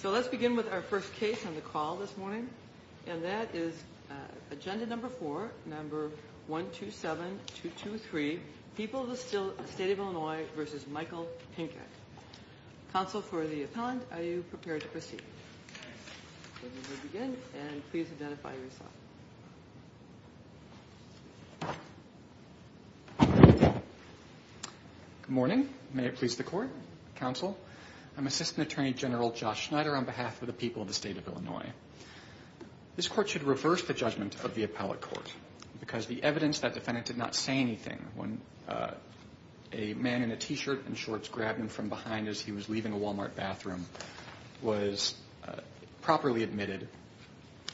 So let's begin with our first case on the call this morning and that is agenda number four, number 127223, People of the State of Illinois v. Michael Pinkett. Counsel for the appellant, are you prepared to proceed? We will begin and please identify yourself. Good morning, may it please the court, counsel. I'm Assistant Attorney General Josh Schneider on behalf of the people of the state of Illinois. This court should reverse the judgment of the appellate court because the evidence that defendant did not say anything when a man in a T-shirt and shorts grabbed him from behind as he was leaving a Walmart bathroom was properly admitted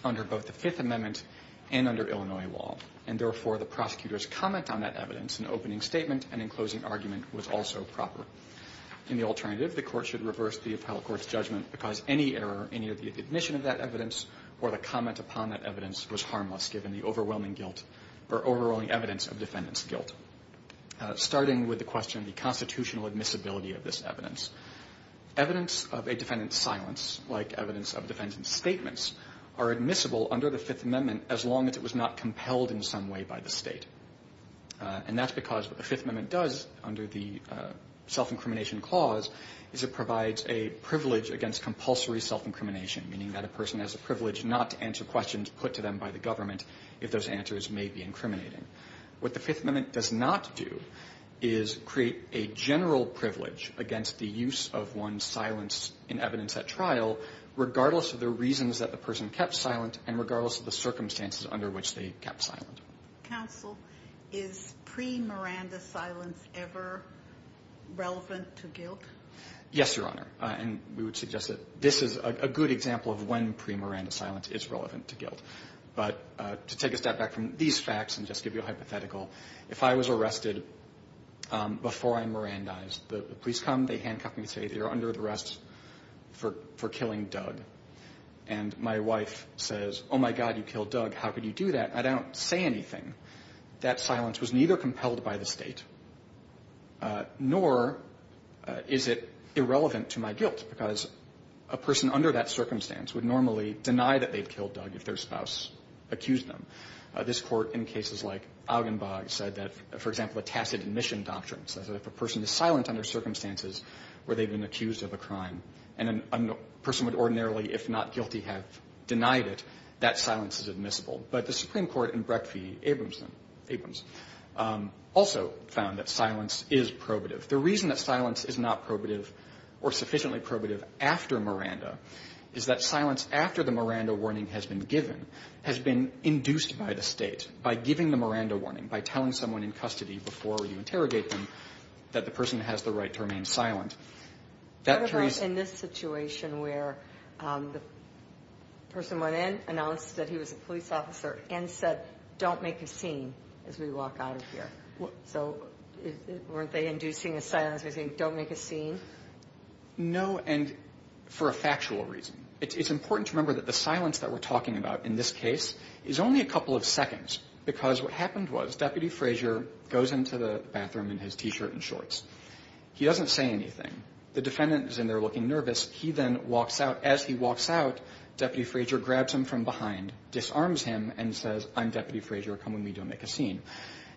under both the Fifth Amendment and under Illinois law, and therefore the prosecutor's comment on that evidence in opening statement and in closing argument was also proper. In the alternative, the court should reverse the appellate court's judgment because any error, any of the admission of that evidence or the comment upon that evidence was harmless given the overwhelming guilt or overwhelming evidence of defendant's guilt. Starting with the question of the constitutional admissibility of this evidence, evidence of a defendant's silence, like evidence of defendant's statements, are admissible under the Fifth Amendment as long as it was not compelled in some way by the state. And that's because what the Fifth Amendment does under the self-incrimination clause is it provides a privilege against compulsory self-incrimination, meaning that a person has a privilege not to answer questions put to them by the government if those answers may be incriminating. What the Fifth Amendment does not do is create a general privilege against the use of one's silence in evidence at trial regardless of the reasons that the person kept silent and regardless of the circumstances under which they kept silent. Counsel, is pre-Miranda silence ever relevant to guilt? Yes, Your Honor, and we would suggest that this is a good example of when pre-Miranda silence is relevant to guilt. But to take a step back from these facts and just give you a hypothetical, if I was arrested before I'm Mirandized, the police come, they handcuff me and say, you're under arrest for killing Doug. And my wife says, oh, my God, you killed Doug. How could you do that? I don't say anything. That silence was neither compelled by the state nor is it irrelevant to my guilt, because a person under that circumstance would normally deny that they've killed Doug if their spouse accused them. This Court in cases like Augenbach said that, for example, a tacit admission doctrine says that if a person is silent under circumstances where they've been accused of a crime and a person would ordinarily, if not guilty, have denied it, that silence is admissible. But the Supreme Court in Brecht v. Abrams also found that silence is probative. The reason that silence is not probative or sufficiently probative after Miranda is that silence after the Miranda warning has been given, has been induced by the state, by giving the Miranda warning, by telling someone in custody before you interrogate them that the person has the right to remain silent. What about in this situation where the person went in, announced that he was a police officer, and said, don't make a scene as we walk out of here? So weren't they inducing a silence by saying, don't make a scene? No, and for a factual reason. It's important to remember that the silence that we're talking about in this case is only a couple of seconds, because what happened was Deputy Frazier goes into the bathroom in his T-shirt and shorts. He doesn't say anything. The defendant is in there looking nervous. He then walks out. As he walks out, Deputy Frazier grabs him from behind, disarms him, and says, I'm Deputy Frazier, come with me, don't make a scene.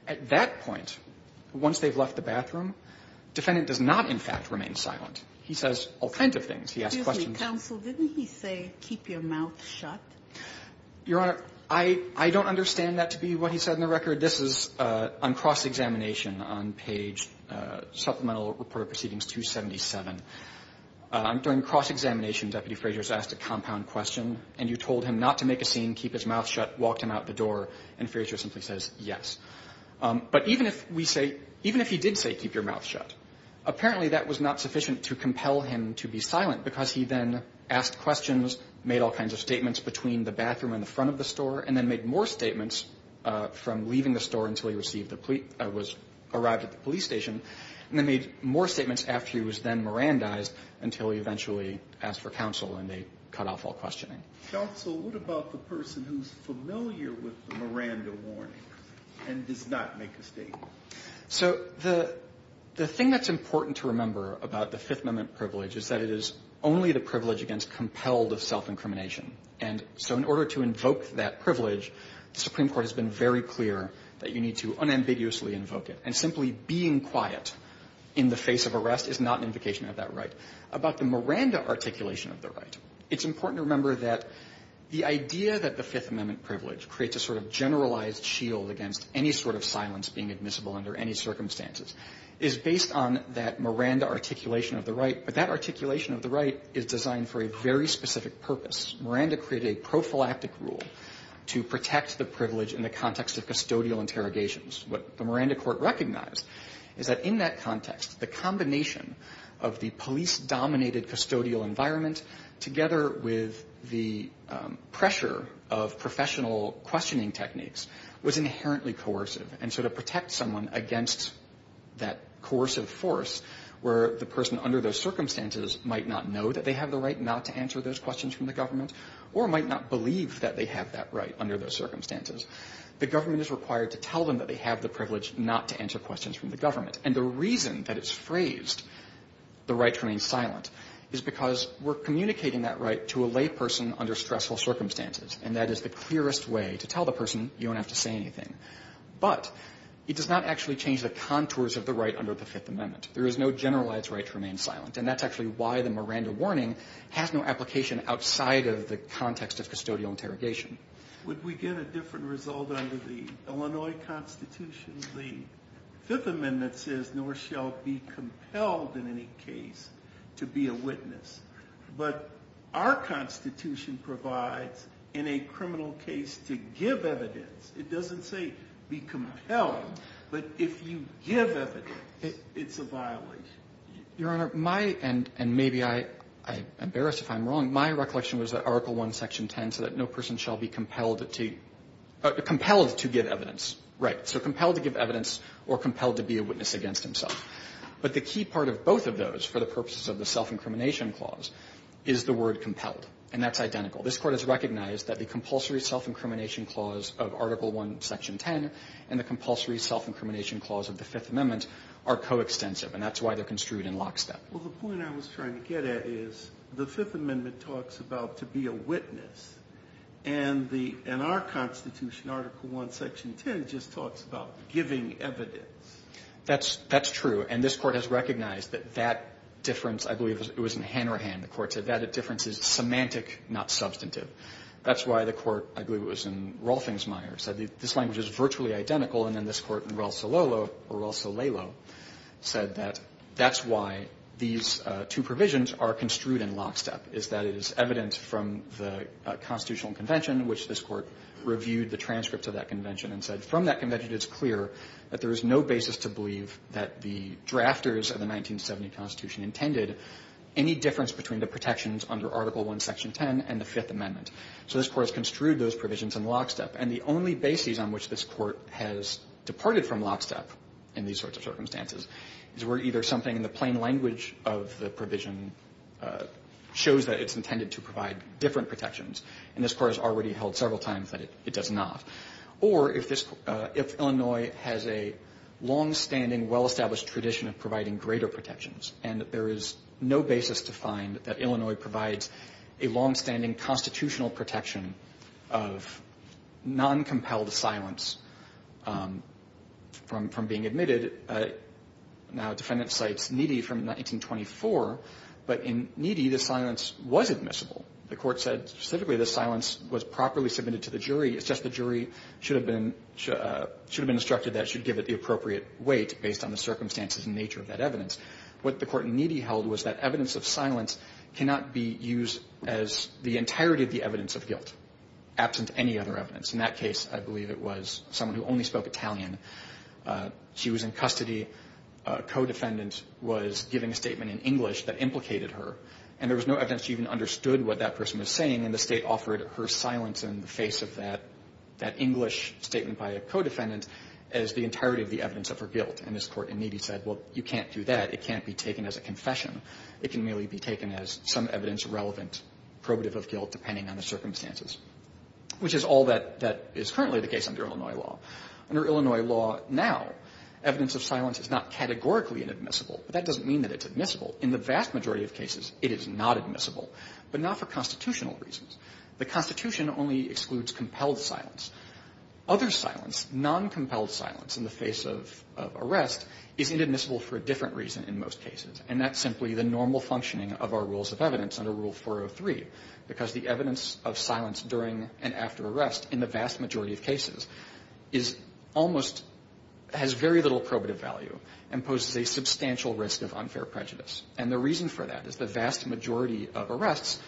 At that point, once they've left the bathroom, defendant does not, in fact, remain silent. He says all kinds of things. He asks questions. Excuse me, counsel, didn't he say keep your mouth shut? Your Honor, I don't understand that to be what he said in the record. This is on cross-examination on page supplemental report of proceedings 277. During cross-examination, Deputy Frazier is asked a compound question, and you told him not to make a scene, keep his mouth shut, walked him out the door, and Frazier simply says yes. But even if we say, even if he did say keep your mouth shut, apparently that was not sufficient to compel him to be silent because he then asked questions, made all kinds of statements between the bathroom and the front of the store, and then made more statements from leaving the store until he was arrived at the police station, and then made more statements after he was then Mirandized until he eventually asked for counsel, and they cut off all questioning. Counsel, what about the person who's familiar with the Miranda warning and does not make a statement? So the thing that's important to remember about the Fifth Amendment privilege is that it is only the privilege against compelled of self-incrimination. And so in order to invoke that privilege, the Supreme Court has been very clear that you need to unambiguously invoke it. And simply being quiet in the face of arrest is not an invocation of that right. And so in order to invoke that privilege, the Supreme Court has been very clear about the Miranda articulation of the right. It's important to remember that the idea that the Fifth Amendment privilege creates a sort of generalized shield against any sort of silence being admissible under any circumstances is based on that Miranda articulation of the right. But that articulation of the right is designed for a very specific purpose. Miranda created a prophylactic rule to protect the privilege in the context of custodial interrogations. What the Miranda court recognized is that in that context, the combination of the police-dominated custodial environment together with the pressure of professional questioning techniques was inherently coercive. And so to protect someone against that coercive force where the person under those circumstances might not know that they have the right not to answer those questions from the government or might not believe that they have that right under those circumstances is to tell them that they have the privilege not to answer questions from the government. And the reason that it's phrased, the right to remain silent, is because we're communicating that right to a layperson under stressful circumstances. And that is the clearest way to tell the person, you don't have to say anything. But it does not actually change the contours of the right under the Fifth Amendment. There is no generalized right to remain silent. And that's actually why the Miranda warning has no application outside of the context of custodial interrogation. Would we get a different result under the Illinois Constitution? The Fifth Amendment says nor shall be compelled in any case to be a witness. But our Constitution provides in a criminal case to give evidence. It doesn't say be compelled. But if you give evidence, it's a violation. Your Honor, my end, and maybe I embarrass if I'm wrong, my recollection was that the Fifth Amendment says no person shall be compelled to give evidence. Right. So compelled to give evidence or compelled to be a witness against himself. But the key part of both of those for the purposes of the self-incrimination clause is the word compelled. And that's identical. This Court has recognized that the compulsory self-incrimination clause of Article 1, Section 10 and the compulsory self-incrimination clause of the Fifth Amendment are coextensive. And that's why they're construed in lockstep. Well, the point I was trying to get at is the Fifth Amendment talks about to be a witness. And our Constitution, Article 1, Section 10, just talks about giving evidence. That's true. And this Court has recognized that that difference, I believe it was in Hanrahan, the Court said that difference is semantic, not substantive. That's why the Court, I believe it was in Rolfingsmeier, said this language is virtually identical. And then this Court in Rolso-Lalo said that that's why these two provisions are construed in lockstep, is that it is evident from the Constitutional Convention, which this Court reviewed the transcript of that convention and said from that convention it's clear that there is no basis to believe that the drafters of the 1970 Constitution intended any difference between the protections under Article 1, Section 10 and the Fifth Amendment. So this Court has construed those provisions in lockstep. And the only basis on which this Court has departed from lockstep in these sorts of circumstances is where either something in the plain language of the provision shows that it's intended to provide different protections. And this Court has already held several times that it does not. Or if Illinois has a longstanding, well-established tradition of providing greater protections, and there is no basis to find that Illinois provides a longstanding constitutional protection of noncompelled silence from being admitted. Now, defendant cites Needy from 1924. But in Needy, the silence was admissible. The Court said specifically the silence was properly submitted to the jury. It's just the jury should have been instructed that it should give it the appropriate weight based on the circumstances and nature of that evidence. What the Court in Needy held was that evidence of silence cannot be used as the entirety of the evidence of guilt, absent any other evidence. In that case, I believe it was someone who only spoke Italian. She was in custody. A co-defendant was giving a statement in English that implicated her. And there was no evidence she even understood what that person was saying. And the State offered her silence in the face of that English statement by a co-defendant as the entirety of the evidence of her guilt. And this Court in Needy said, well, you can't do that. It can't be taken as a confession. It can merely be taken as some evidence relevant probative of guilt depending on the circumstances, which is all that is currently the case under Illinois law. Under Illinois law now, evidence of silence is not categorically inadmissible, but that doesn't mean that it's admissible. In the vast majority of cases, it is not admissible, but not for constitutional reasons. The Constitution only excludes compelled silence. Other silence, noncompelled silence in the face of arrest is inadmissible for a different reason in most cases, and that's simply the normal functioning of our rules of evidence under Rule 403, because the evidence of silence during and after arrest in the vast majority of cases is almost – has very little probative value and poses a substantial risk of unfair prejudice. And the reason for that is the vast majority of arrests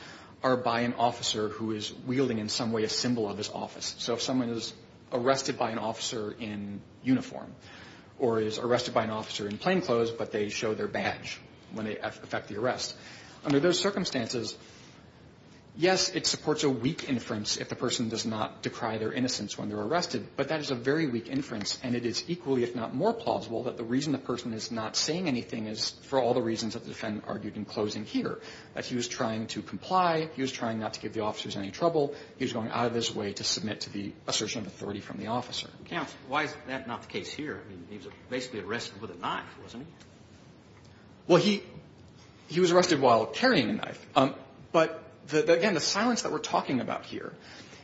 are by an officer who is wielding in some way a symbol of his office. So if someone is arrested by an officer in uniform or is arrested by an officer in plainclothes, but they show their badge when they affect the arrest, under those circumstances, yes, it supports a weak inference if the person does not decry their innocence when they're arrested, but that is a very weak inference, and it is equally, if not more plausible, that the reason the person is not saying anything is for all the reasons that the defendant argued in closing here, that he was trying to comply, he was trying not to give the officers any trouble, he was going out of his way to submit to the assertion of authority from the officer. Kennedy. Counsel, why is that not the case here? I mean, he was basically arrested with a knife, wasn't he? Well, he was arrested while carrying a knife. But again, the silence that we're talking about here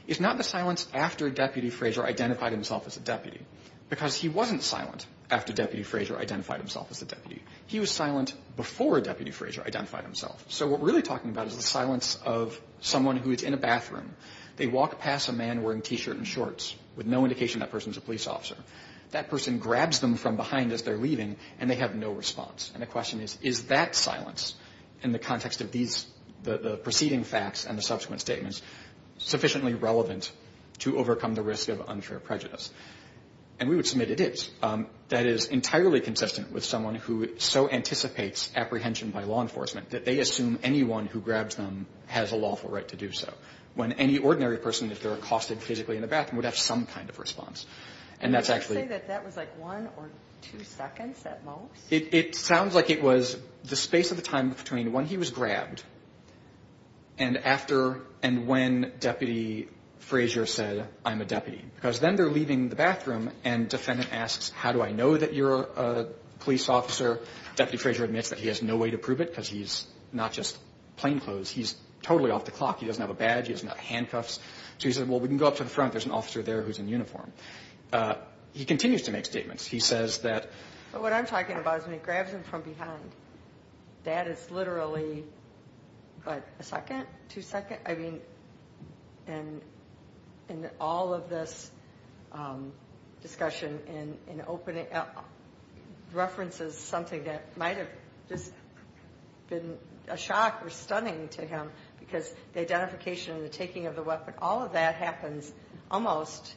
is not the silence after Deputy Frazier identified himself as a deputy, because he wasn't silent after Deputy Frazier identified himself as a deputy. He was silent before Deputy Frazier identified himself. So what we're really talking about is the silence of someone who is in a bathroom. They walk past a man wearing a T-shirt and shorts with no indication that person is a police officer. That person grabs them from behind as they're leaving, and they have no response. And the question is, is that silence in the context of these, the preceding facts and the subsequent statements, sufficiently relevant to overcome the risk of unfair prejudice? And we would submit it is. That is entirely consistent with someone who so anticipates apprehension by law enforcement, that they assume anyone who grabs them has a lawful right to do so. When any ordinary person, if they're accosted physically in the bathroom, would have some kind of response. And that's actually. Would you say that that was like one or two seconds at most? It sounds like it was the space of the time between when he was grabbed and after and when Deputy Frazier said, I'm a deputy. Because then they're leaving the bathroom, and defendant asks, how do I know that you're a police officer? Deputy Frazier admits that he has no way to prove it, because he's not just plain clothes. He's totally off the clock. He doesn't have a badge. He doesn't have handcuffs. So he says, well, we can go up to the front. There's an officer there who's in uniform. He continues to make statements. He says that. But what I'm talking about is when he grabs them from behind, that is literally, what, a second, two seconds? I mean, and all of this discussion in opening up references something that might have just been a shock or stunning to him, because the identification and the taking of the weapon, all of that happens almost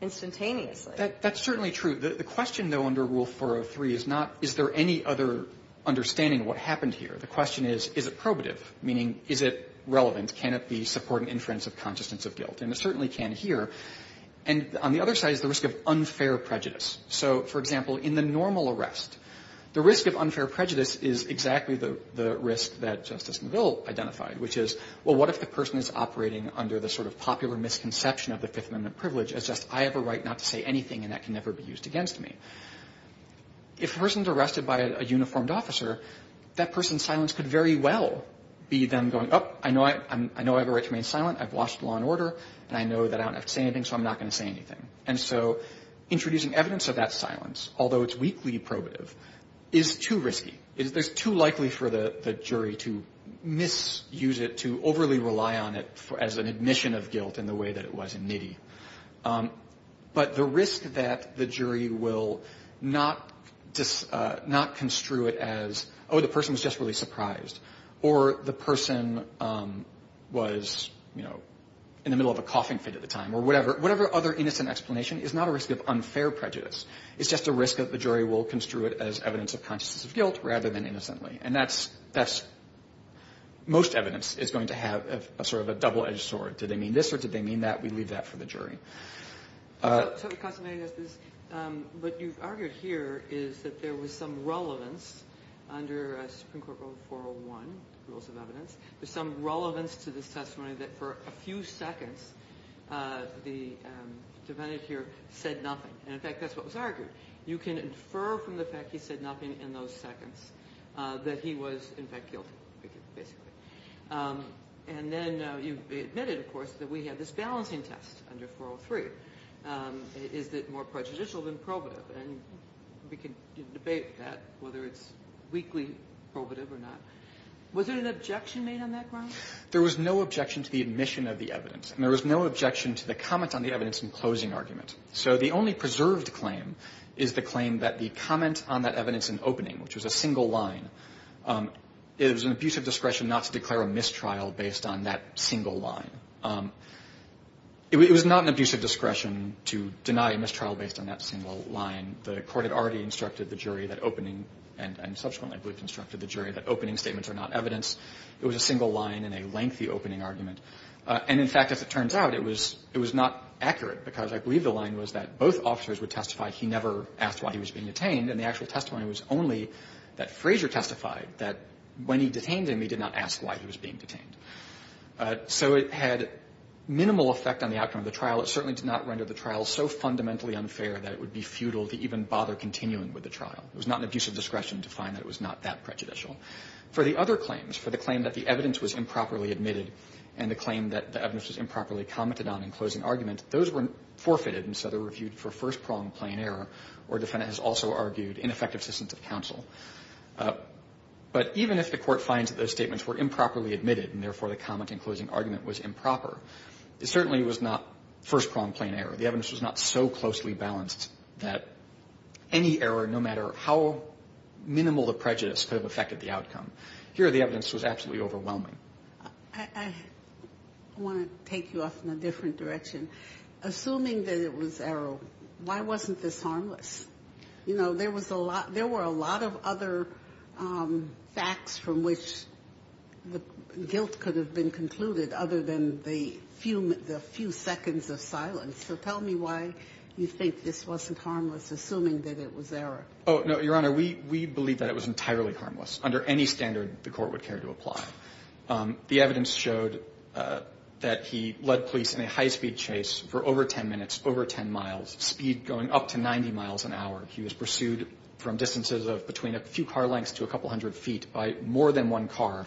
instantaneously. That's certainly true. The question, though, under Rule 403 is not, is there any other understanding of what happened here? The question is, is it probative, meaning is it relevant? Can it be supporting inference of consciousness of guilt? And it certainly can here. And on the other side is the risk of unfair prejudice. So, for example, in the normal arrest, the risk of unfair prejudice is exactly the risk that Justice McGill identified, which is, well, what if the person is operating under the sort of popular misconception of the Fifth Amendment privilege as just, I have a right not to say anything, and that can never be used against me? If a person's arrested by a uniformed officer, that person's silence could very well be them going, oh, I know I have a right to remain silent. I've watched law and order, and I know that I don't have to say anything, so I'm not going to say anything. And so introducing evidence of that silence, although it's weakly probative, is too risky. It's too likely for the jury to misuse it, to overly rely on it as an admission of guilt in the way that it was in NITI. But the risk that the jury will not construe it as, oh, the person was just really surprised, or the person was, you know, in the middle of a coughing fit at the time or whatever, whatever other innocent explanation is not a risk of unfair prejudice. It's just a risk that the jury will construe it as evidence of consciousness of guilt rather than innocently. And that's, most evidence is going to have sort of a double-edged sword. Did they mean this, or did they mean that? We leave that for the jury. What you've argued here is that there was some relevance under Supreme Court Rule 401, Rules of Evidence, there's some relevance to this testimony that for a few seconds the defendant here said nothing. And, in fact, that's what was argued. You can infer from the fact he said nothing in those seconds that he was, in fact, guilty, basically. And then you admitted, of course, that we had this balancing test under 403. Is it more prejudicial than probative? And we can debate that, whether it's weakly probative or not. Was there an objection made on that ground? There was no objection to the admission of the evidence, and there was no objection to the comment on the evidence in closing argument. So the only preserved claim is the claim that the comment on that evidence in opening, which was a single line, it was an abusive discretion not to declare a mistrial based on that single line. It was not an abusive discretion to deny a mistrial based on that single line. The court had already instructed the jury that opening, and subsequently I believe instructed the jury that opening statements are not evidence. It was a single line in a lengthy opening argument. And, in fact, as it turns out, it was not accurate, because I believe the line was that both officers would testify he never asked why he was being detained, and the actual testimony was only that Frazier testified that when he detained him, he did not ask why he was being detained. So it had minimal effect on the outcome of the trial. It certainly did not render the trial so fundamentally unfair that it would be futile to even bother continuing with the trial. It was not an abusive discretion to find that it was not that prejudicial. For the other claims, for the claim that the evidence was improperly admitted and the claim that the evidence was improperly commented on in closing argument, those were forfeited, and so they were reviewed for first prong plain error, where a defendant has also argued ineffective assistance of counsel. But even if the Court finds that those statements were improperly admitted and, therefore, the comment in closing argument was improper, it certainly was not first prong plain error. The evidence was not so closely balanced that any error, no matter how minimal the prejudice could have affected the outcome. Here, the evidence was absolutely overwhelming. I want to take you off in a different direction. Assuming that it was error, why wasn't this harmless? You know, there was a lot of other facts from which the guilt could have been concluded other than the few seconds of silence. So tell me why you think this wasn't harmless, assuming that it was error. Oh, no, Your Honor, we believe that it was entirely harmless, under any standard the Court would care to apply. The evidence showed that he led police in a high-speed chase for over 10 minutes, over 10 miles, speed going up to 90 miles an hour. He was pursued from distances of between a few car lengths to a couple hundred feet by more than one car,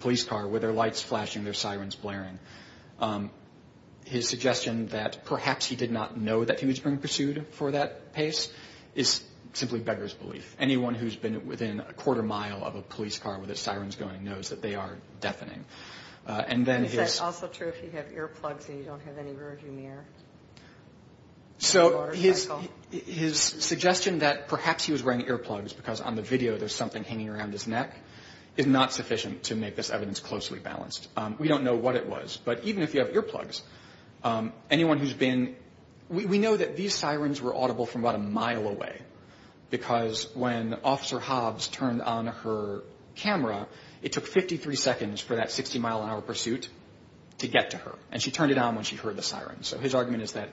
police car, with their lights flashing, their sirens blaring. His suggestion that perhaps he did not know that he was being pursued for that pace is simply beggar's belief. Anyone who's been within a quarter mile of a police car with their sirens going knows that they are deafening. Is that also true if you have earplugs and you don't have any rear-view mirror? So his suggestion that perhaps he was wearing earplugs, because on the video there's something hanging around his neck, is not sufficient to make this evidence closely balanced. We don't know what it was. But even if you have earplugs, anyone who's been – we know that these sirens were audible from about a mile away because when Officer Hobbs turned on her camera, it took 53 seconds for that 60-mile-an-hour pursuit to get to her. And she turned it on when she heard the sirens. So his argument is that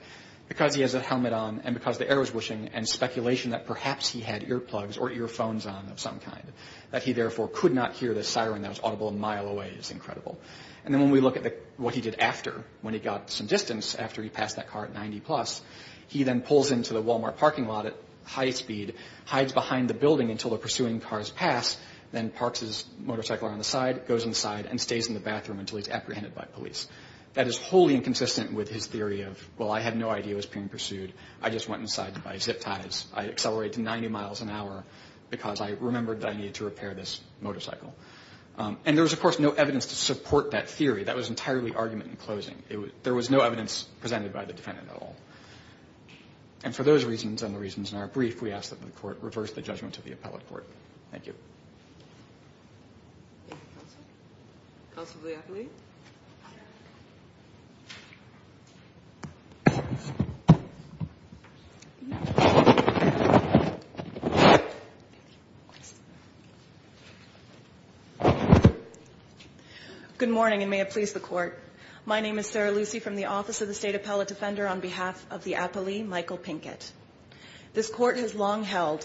because he has a helmet on and because the air was whooshing and speculation that perhaps he had earplugs or earphones on of some kind, that he therefore could not hear the siren that was audible a mile away is incredible. And then when we look at what he did after, when he got some distance after he passed that car at 90-plus, he then pulls into the Walmart parking lot at high speed, hides behind the building until the pursuing cars pass, then parks his motorcycle on the side, goes inside, and stays in the bathroom until he's apprehended by police. That is wholly inconsistent with his theory of, well, I had no idea it was being pursued. I just went inside to buy zip ties. I accelerated to 90 miles an hour because I remembered that I needed to repair this motorcycle. And there was, of course, no evidence to support that theory. That was entirely argument in closing. There was no evidence presented by the defendant at all. And for those reasons and the reasons in our brief, we ask that the Court reverse the judgment of the appellate court. Thank you. Thank you, Counsel. Counsel for the appellee. Good morning, and may it please the Court. My name is Sarah Lucey from the Office of the State Appellate Defender, on behalf of the appellee, Michael Pinkett. This Court has long held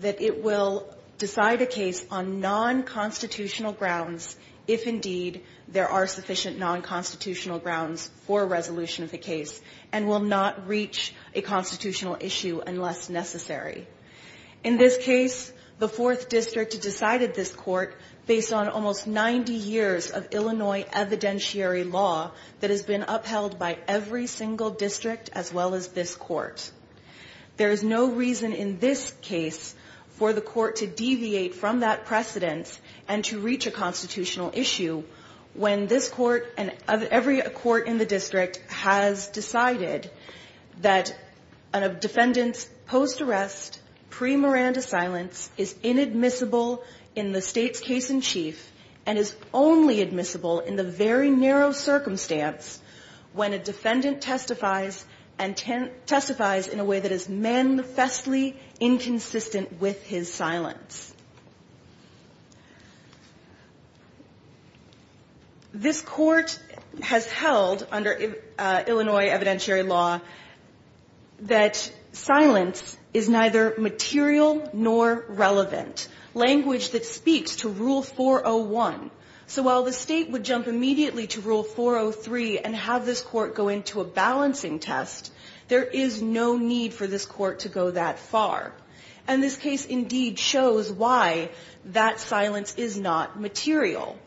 that it will decide a case on non-constitutional grounds if, indeed, there are sufficient non-constitutional grounds for a resolution of the case and will not reach a constitutional issue unless necessary. In this case, the Fourth District decided this court based on almost 90 years of Illinois evidentiary law that has been upheld by every single district as well as this court. There is no reason in this case for the court to deviate from that precedent and to reach a constitutional issue when this court and every court in the district has decided that a defendant's post-arrest, pre-Miranda silence is inadmissible in the State's case-in-chief and is only admissible in the very narrow circumstance when a defendant testifies in a way that is manifestly inconsistent with his silence. This Court has held under Illinois evidentiary law that silence is neither material nor relevant, language that speaks to Rule 401. So while the State would jump immediately to Rule 403 and have this court go into a balancing test, there is no need for this court to go that far. And this case, indeed, shows why that silence is not material.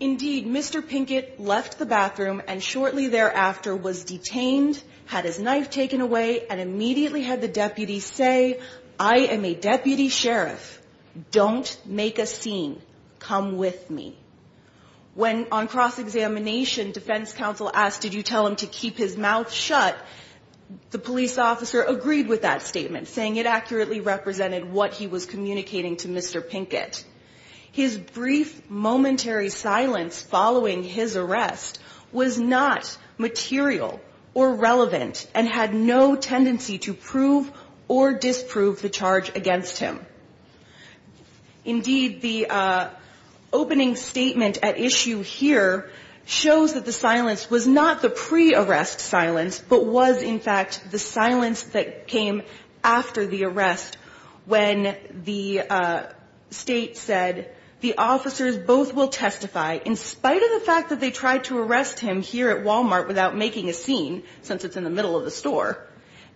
Indeed, Mr. Pinkett left the bathroom and shortly thereafter was detained, had his knife taken away, and immediately had the deputy say, I am a deputy sheriff. Don't make a scene. Come with me. When on cross-examination, defense counsel asked, did you tell him to keep his mouth shut? The police officer agreed with that statement, saying it accurately represented what he was communicating to Mr. Pinkett. His brief momentary silence following his arrest was not material or relevant and had no tendency to prove or disprove the charge against him. Indeed, the opening statement at issue here shows that the silence was not the pre-arrest silence, but was, in fact, the silence that came after the arrest when the State said the officers both will testify in spite of the fact that they tried to arrest him here at Walmart without making a scene, since it's in the middle of the store.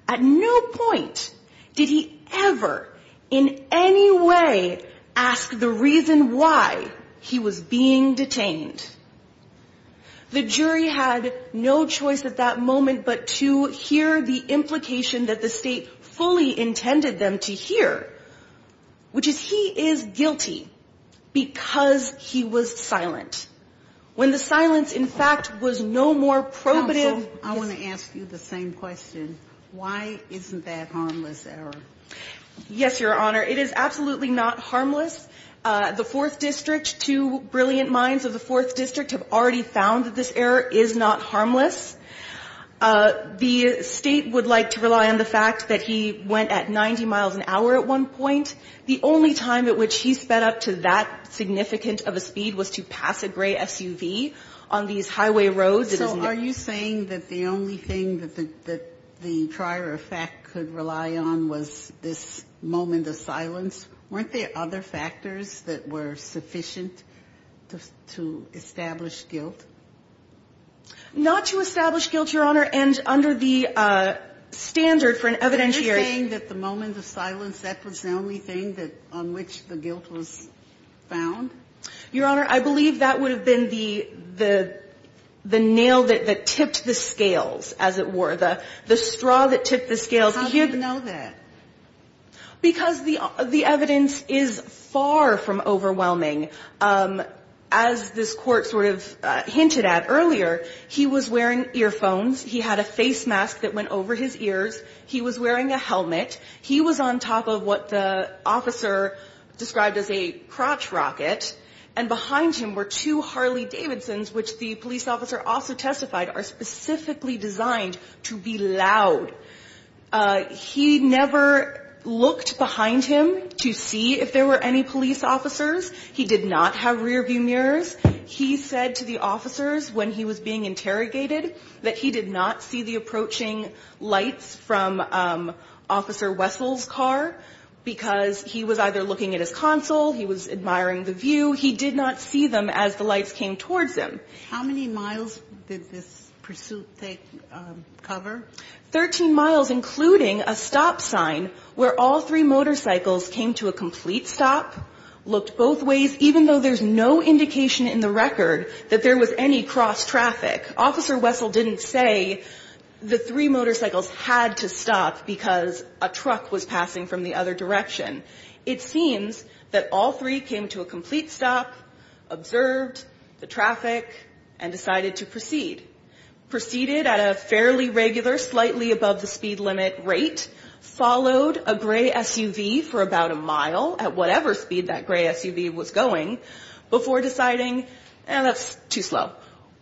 At no point did he ever in any way ask the reason why he was being detained. The jury had no choice at that moment but to hear the implication that the State fully intended them to hear, which is he is guilty because he was silent. When the silence, in fact, was no more probative. Counsel, I want to ask you the same question. Why isn't that harmless error? Yes, Your Honor. It is absolutely not harmless. The Fourth District, two brilliant minds of the Fourth District, have already found that this error is not harmless. The State would like to rely on the fact that he went at 90 miles an hour at one point. The only time at which he sped up to that significant of a speed was to pass a gray SUV on these highway roads. So are you saying that the only thing that the prior effect could rely on was this moment of silence? Weren't there other factors that were sufficient to establish guilt? Not to establish guilt, Your Honor, and under the standard for an evidentiary the moment of silence, that was the only thing on which the guilt was found? Your Honor, I believe that would have been the nail that tipped the scales, as it were, the straw that tipped the scales. How do you know that? Because the evidence is far from overwhelming. As this Court sort of hinted at earlier, he was wearing earphones. He had a face mask that went over his ears. He was wearing a helmet. He was on top of what the officer described as a crotch rocket. And behind him were two Harley Davidsons, which the police officer also testified are specifically designed to be loud. He never looked behind him to see if there were any police officers. He did not have rearview mirrors. He said to the officers when he was being interrogated that he did not see the approaching lights from Officer Wessel's car, because he was either looking at his console, he was admiring the view. He did not see them as the lights came towards him. How many miles did this pursuit take cover? Thirteen miles, including a stop sign where all three motorcycles came to a complete stop, looked both ways, even though there's no indication in the record that there was any cross traffic. Officer Wessel didn't say the three motorcycles had to stop because a truck was passing from the other direction. It seems that all three came to a complete stop, observed the traffic, and decided to proceed. Proceeded at a fairly regular, slightly above the speed limit rate, followed a gray SUV for about a mile at whatever speed that gray SUV was going, before deciding, eh, that's too slow,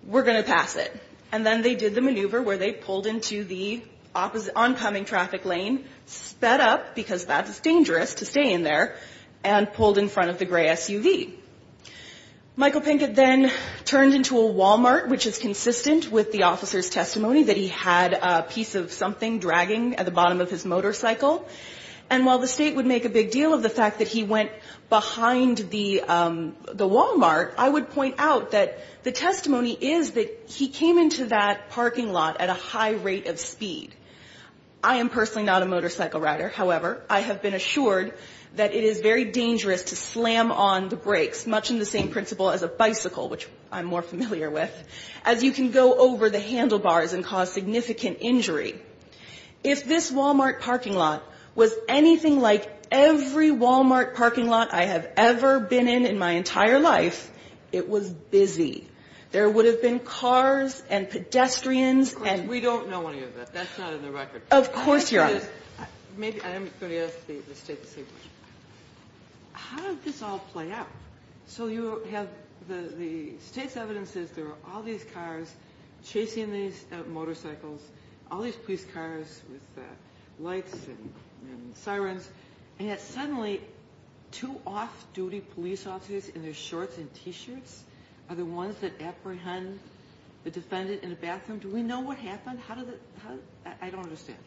we're going to pass it. And then they did the maneuver where they pulled into the oncoming traffic lane, sped up, because that's dangerous to stay in there, and pulled in front of the gray SUV. Michael Pinkett then turned into a Walmart, which is consistent with the officer's testimony that he had a piece of something dragging at the bottom of his motorcycle. And while the state would make a big deal of the fact that he went behind the Walmart, I would point out that the testimony is that he came into that parking lot at a high rate of speed. I am personally not a motorcycle rider. However, I have been assured that it is very dangerous to slam on the brakes, much in the same principle as a bicycle, which I'm more familiar with, as you can go over the handlebars and cause significant injury. If this Walmart parking lot was anything like every Walmart parking lot I have ever been in in my entire life, it was busy. There would have been cars and pedestrians and... Of course, we don't know any of that. That's not in the record. Of course, Your Honor. Maybe I'm going to ask the state the same question. How did this all play out? So you have the state's evidence says there were all these cars chasing these motorcycles, all these police cars with lights and sirens, and yet suddenly two off-duty police officers in their shorts and T-shirts are the ones that apprehend the defendant in the bathroom. Do we know what happened? How does it – I don't understand.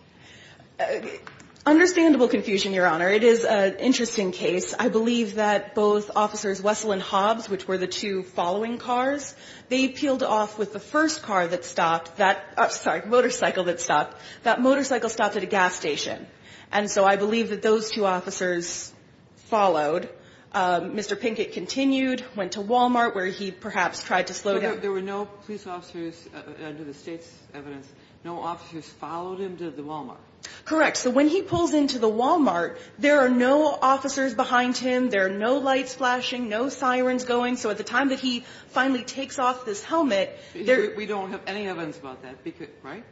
Understandable confusion, Your Honor. It is an interesting case. I believe that both Officers Wessel and Hobbs, which were the two following cars, they peeled off with the first car that stopped – sorry, motorcycle that stopped. That motorcycle stopped at a gas station. And so I believe that those two officers followed. Mr. Pinkett continued, went to Wal-Mart, where he perhaps tried to slow down. There were no police officers under the state's evidence. No officers followed him to the Wal-Mart. Correct. So when he pulls into the Wal-Mart, there are no officers behind him. There are no lights flashing, no sirens going. So at the time that he finally takes off his helmet... We don't have any evidence about that, right?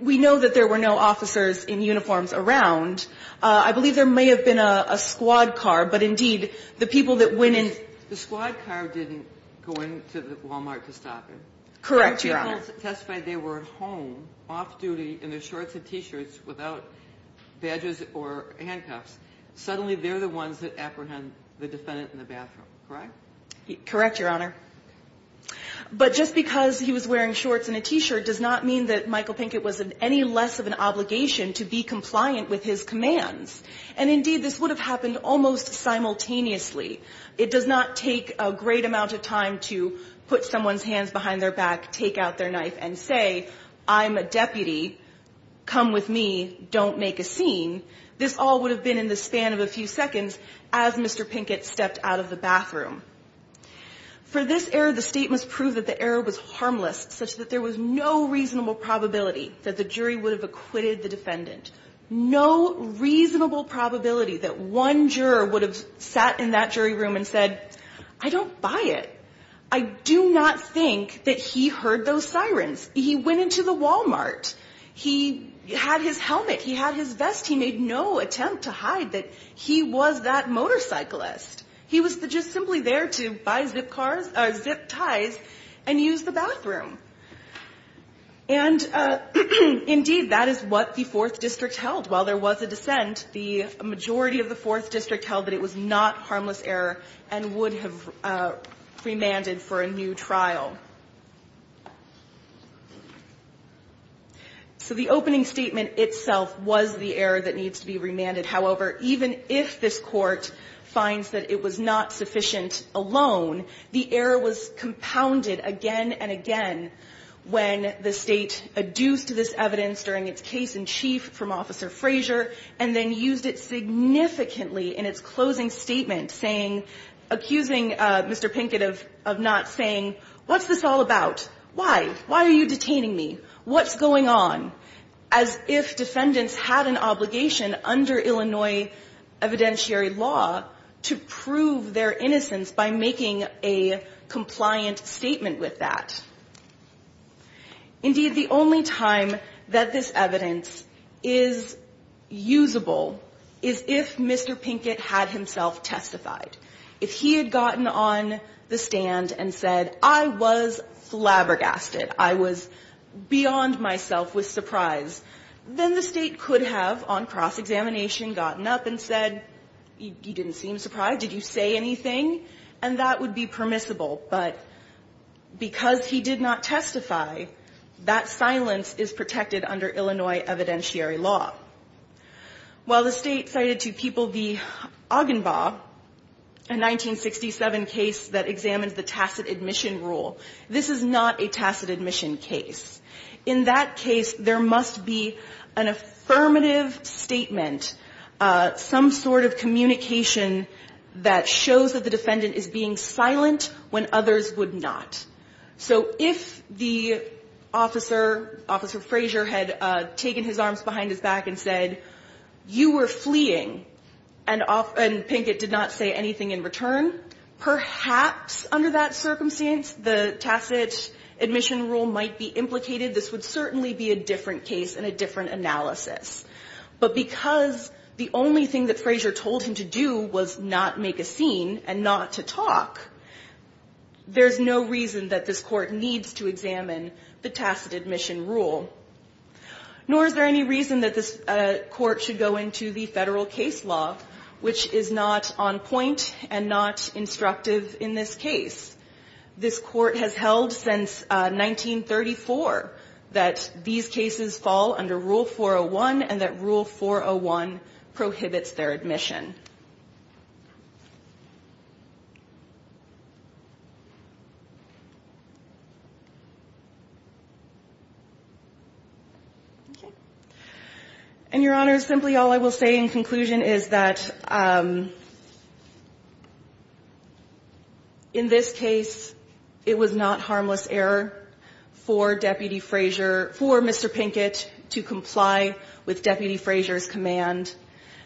We know that there were no officers in uniforms around. I believe there may have been a squad car, but, indeed, the people that went in... The squad car didn't go into the Wal-Mart to stop him. Correct, Your Honor. The people who testified, they were at home, off-duty, in their shorts and T-shirts, without badges or handcuffs. Suddenly, they're the ones that apprehend the defendant in the bathroom, correct? Correct, Your Honor. But just because he was wearing shorts and a T-shirt does not mean that Michael Pinkett was of any less of an obligation to be compliant with his commands. And, indeed, this would have happened almost simultaneously. It does not take a great amount of time to put someone's hands behind their back, take out their knife, and say, I'm a deputy, come with me, don't make a scene. This all would have been in the span of a few seconds as Mr. Pinkett stepped out of the bathroom. Such that there was no reasonable probability that the jury would have acquitted the defendant. No reasonable probability that one juror would have sat in that jury room and said, I don't buy it. I do not think that he heard those sirens. He went into the Wal-Mart. He had his helmet. He had his vest. He made no attempt to hide that he was that motorcyclist. He was just simply there to buy zip ties and use the bathroom. And, indeed, that is what the Fourth District held. While there was a dissent, the majority of the Fourth District held that it was not harmless error and would have remanded for a new trial. So the opening statement itself was the error that needs to be remanded. However, even if this Court finds that it was not sufficient alone, the error was compounded again and again when the State adduced this evidence during its case in chief from Officer Frazier and then used it significantly in its closing statement, saying, accusing Mr. Pinkett of not saying, what's this all about? Why? Why are you detaining me? What's going on? As if defendants had an obligation under Illinois evidentiary law to prove their innocence by making a compliant statement with that. Indeed, the only time that this evidence is usable is if Mr. Pinkett had himself testified. If he had gotten on the stand and said, I was flabbergasted. I was beyond myself with surprise, then the State could have, on cross-examination, gotten up and said, you didn't seem surprised. Did you say anything? And that would be permissible. But because he did not testify, that silence is protected under Illinois evidentiary law. While the State cited to people the Augenbaugh, a 1967 case that examined the tacit admission case. In that case, there must be an affirmative statement, some sort of communication that shows that the defendant is being silent when others would not. So if the officer, Officer Frazier, had taken his arms behind his back and said, you were fleeing, and Pinkett did not say anything in return, perhaps under that circumstance the tacit admission rule might be implicated. This would certainly be a different case and a different analysis. But because the only thing that Frazier told him to do was not make a scene and not to talk, there's no reason that this Court needs to examine the tacit admission rule. Nor is there any reason that this Court should go into the Federal case law, which is not on point and not instructive in this case. This Court has held since 1934 that these cases fall under Rule 401 and that Rule 401 prohibits their admission. Okay. And, Your Honor, simply all I will say in conclusion is that in this case it was not harmless error for Deputy Frazier, for Mr. Pinkett to comply with Deputy Frazier's command,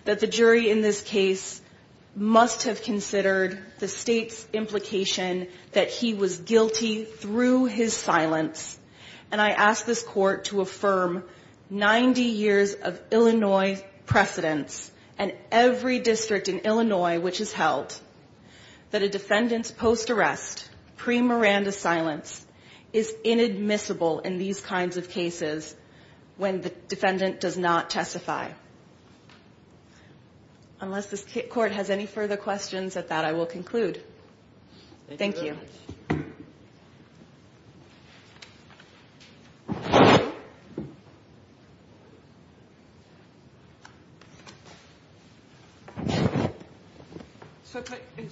that the jury in this case must have considered the State's implication that he was guilty through his silence. And I ask this Court to affirm 90 years of Illinois precedence and every district in Illinois which has held that a defendant's post-arrest, pre-Miranda silence is inadmissible in these kinds of cases when the defendant does not testify. Unless this Court has any further questions at that, I will conclude. Thank you. Thank you very much.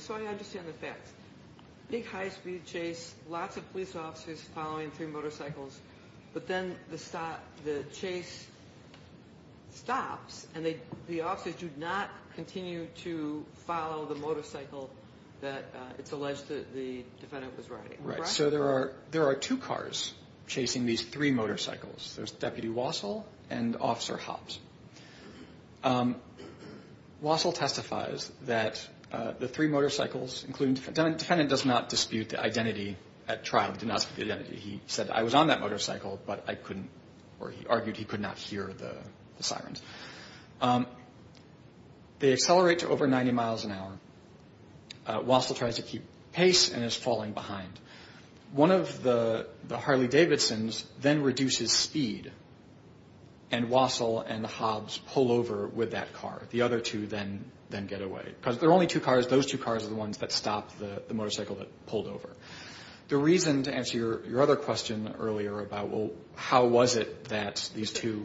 So I understand the facts. Big high-speed chase, lots of police officers following three motorcycles, but then the chase stops and the officers do not continue to follow the motorcycle that it's Right. So there are two cars chasing these three motorcycles. There's Deputy Wassil and Officer Hopps. Wassil testifies that the three motorcycles, including the defendant, the defendant does not dispute the identity at trial, did not dispute the identity. He said, I was on that motorcycle, but I couldn't, or he argued he could not hear the sirens. They accelerate to over 90 miles an hour. Wassil tries to keep pace and is falling behind. One of the Harley-Davidson's then reduces speed, and Wassil and Hopps pull over with that car. The other two then get away. Because there are only two cars. Those two cars are the ones that stopped the motorcycle that pulled over. The reason, to answer your other question earlier about, well, how was it that these two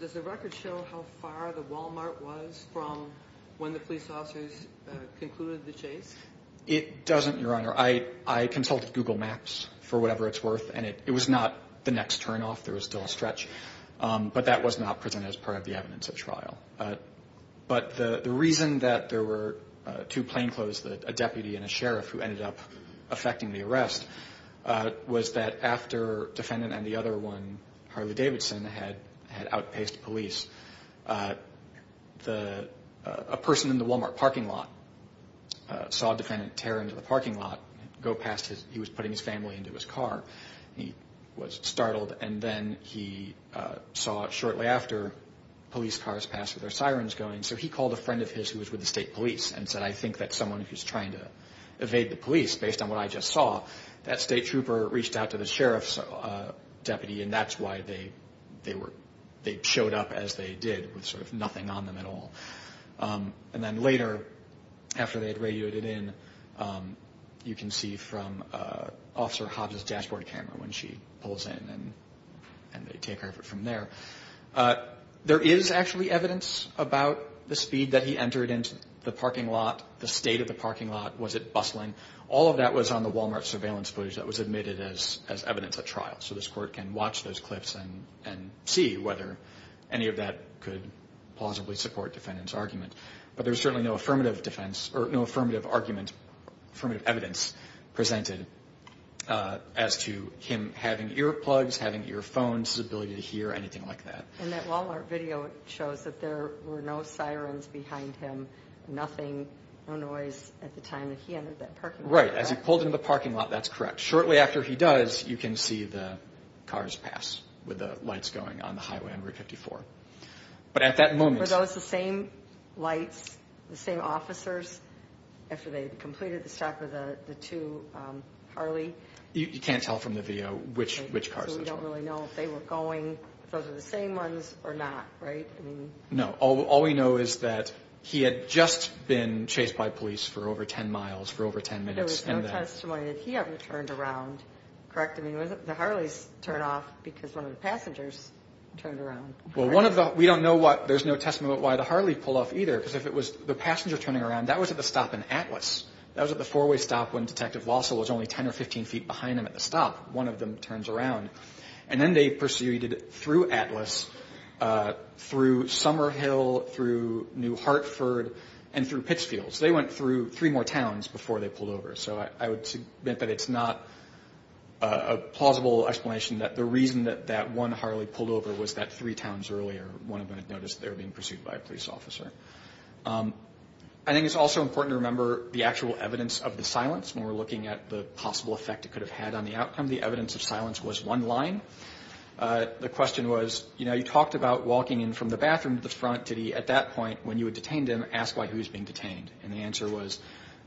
Does the record show how far the Walmart was from when the police officers concluded the chase? It doesn't, Your Honor. I consulted Google Maps for whatever it's worth, and it was not the next turnoff. There was still a stretch. But that was not presented as part of the evidence at trial. But the reason that there were two plainclothes, a deputy and a sheriff, who ended up affecting the arrest, was that after defendant and the other one, Harley-Davidson, had outpaced police, a person in the Walmart parking lot saw defendant tear into the parking lot. He was putting his family into his car. He was startled, and then he saw shortly after police cars pass with their sirens going, so he called a friend of his who was with the state police and said, I think that someone is trying to evade the police based on what I just saw. That state trooper reached out to the sheriff's deputy, and that's why they showed up as they did with sort of nothing on them at all. And then later, after they had radioed it in, you can see from Officer Hobbs' dashboard camera when she pulls in, and they take her from there. There is actually evidence about the speed that he entered into the parking lot, the state of the parking lot. Was it bustling? All of that was on the Walmart surveillance footage that was admitted as evidence at trial, so this court can watch those clips and see whether any of that could plausibly support defendant's argument. But there's certainly no affirmative argument, affirmative evidence, presented as to him having earplugs, having earphones, his ability to hear, anything like that. And that Walmart video shows that there were no sirens behind him, nothing, no noise at the time that he entered that parking lot. Right. As he pulled into the parking lot, that's correct. Shortly after he does, you can see the cars pass with the lights going on the highway on Route 54. But at that moment... Were those the same lights, the same officers after they'd completed the stop with the two Harley? You can't tell from the video which cars those were. So we don't really know if they were going, if those were the same ones or not, right? No. All we know is that he had just been chased by police for over 10 miles, for over 10 minutes. There was no testimony that he ever turned around, correct? I mean, was it the Harleys' turn off because one of the passengers turned around? Well, one of the... We don't know what... There's no testimony about why the Harley pulled off either because if it was the passenger turning around, that was at the stop in Atlas. That was at the four-way stop when Detective Walsall was only 10 or 15 feet behind him at the stop. One of them turns around. And then they proceeded through Atlas, through Summer Hill, through New Hartford, and through Pittsfield. So they went through three more towns before they pulled over. So I would submit that it's not a plausible explanation that the reason that that one Harley pulled over was that three towns earlier one of them had noticed they were being pursued by a police officer. I think it's also important to remember the actual evidence of the silence when we're looking at the possible effect it could have had on the outcome. The evidence of silence was one line. The question was, you know, you talked about walking in from the bathroom to the front. Did he, at that point, when you had detained him, ask why he was being detained? And the answer was,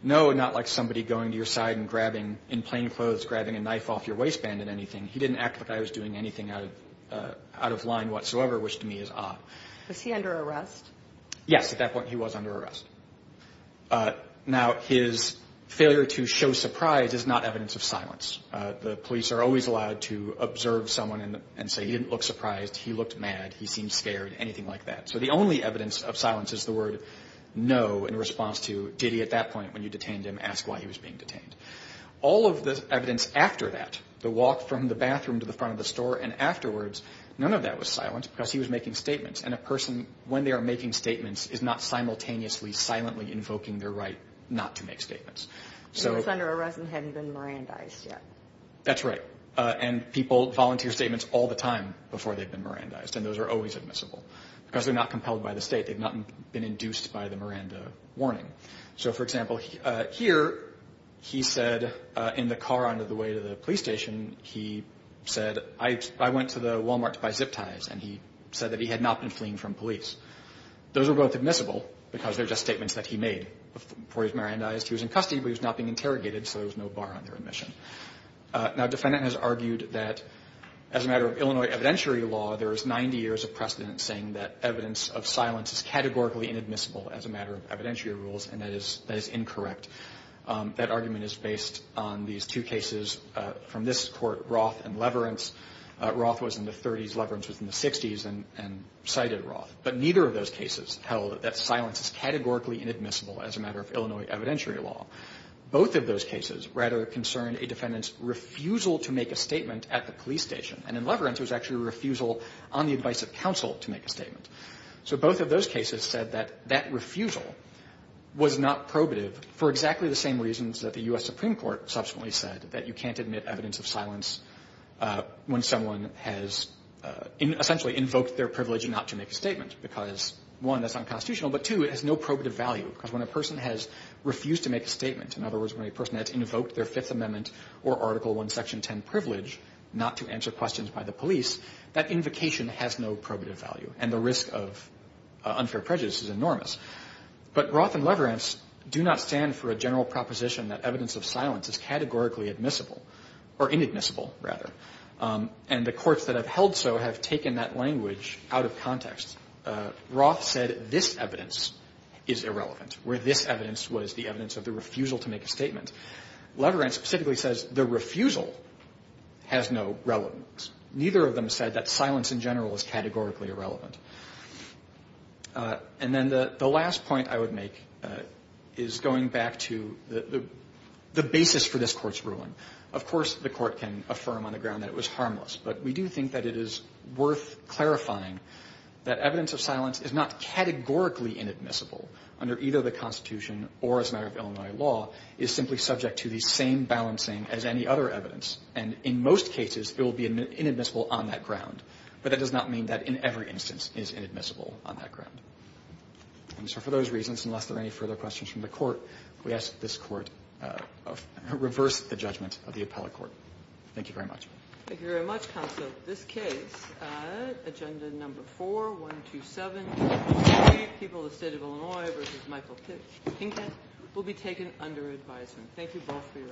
no, not like somebody going to your side and grabbing, in plain clothes, grabbing a knife off your waistband and anything. He didn't act like I was doing anything out of line whatsoever, which to me is odd. Was he under arrest? Yes. At that point, he was under arrest. Now, his failure to show surprise is not evidence of silence. The police are always allowed to observe someone and say he didn't look surprised, he looked mad, he seemed scared, anything like that. So the only evidence of silence is the word, no, in response to, did he, at that point, when you detained him, ask why he was being detained? All of the evidence after that, the walk from the bathroom to the front of the store and afterwards, none of that was silence because he was making statements. And a person, when they are making statements, is not simultaneously, silently invoking their right not to make statements. He was under arrest and hadn't been Mirandized yet. That's right. And people volunteer statements all the time before they've been Mirandized. And those are always admissible because they're not compelled by the State. They've not been induced by the Miranda warning. So, for example, here, he said in the car on the way to the police station, he said, I went to the Wal-Mart to buy zip ties, and he said that he had not been fleeing from police. Those are both admissible because they're just statements that he made before he was Mirandized. He was in custody, but he was not being interrogated, so there was no bar on their admission. Now, a defendant has argued that, as a matter of Illinois evidentiary law, there is 90 years of precedent saying that evidence of silence is categorically inadmissible as a matter of evidentiary rules, and that is incorrect. That argument is based on these two cases from this court, Roth and Leverance. Roth was in the 30s. Leverance was in the 60s and cited Roth. But neither of those cases held that silence is categorically inadmissible as a matter of Illinois evidentiary law. Both of those cases, rather, concerned a defendant's refusal to make a statement at the police station. And in Leverance, it was actually a refusal on the advice of counsel to make a statement. So both of those cases said that that refusal was not probative for exactly the same reasons that the U.S. Supreme Court subsequently said, that you can't admit evidence of silence when someone has essentially invoked their privilege not to make a statement because, one, that's unconstitutional, but, two, it has no probative value because when a person has refused to make a statement, in other words, when a person has invoked their Fifth Amendment or Article I, Section 10 privilege not to answer questions by the police, that invocation has no probative value, and the risk of unfair prejudice is enormous. But Roth and Leverance do not stand for a general proposition that evidence of silence is categorically admissible, or inadmissible, rather. And the courts that have held so have taken that language out of context. Roth said this evidence is irrelevant, where this evidence was the evidence of the refusal to make a statement. Leverance specifically says the refusal has no relevance. Neither of them said that silence in general is categorically irrelevant. And then the last point I would make is going back to the basis for this Court's ruling. Of course, the Court can affirm on the ground that it was harmless, but we do think that it is worth clarifying that evidence of silence is not categorically inadmissible under either the Constitution or as a matter of Illinois law, is simply subject to the same balancing as any other evidence. And in most cases, it will be inadmissible on that ground. But that does not mean that in every instance is inadmissible on that ground. And so for those reasons, unless there are any further questions from the Court, we ask that this Court reverse the judgment of the appellate court. Thank you very much. Thank you very much, Counsel. This case, Agenda Number 4-127, People of the State of Illinois v. Michael Pinkett, will be taken under advisement. Thank you both for your arguments.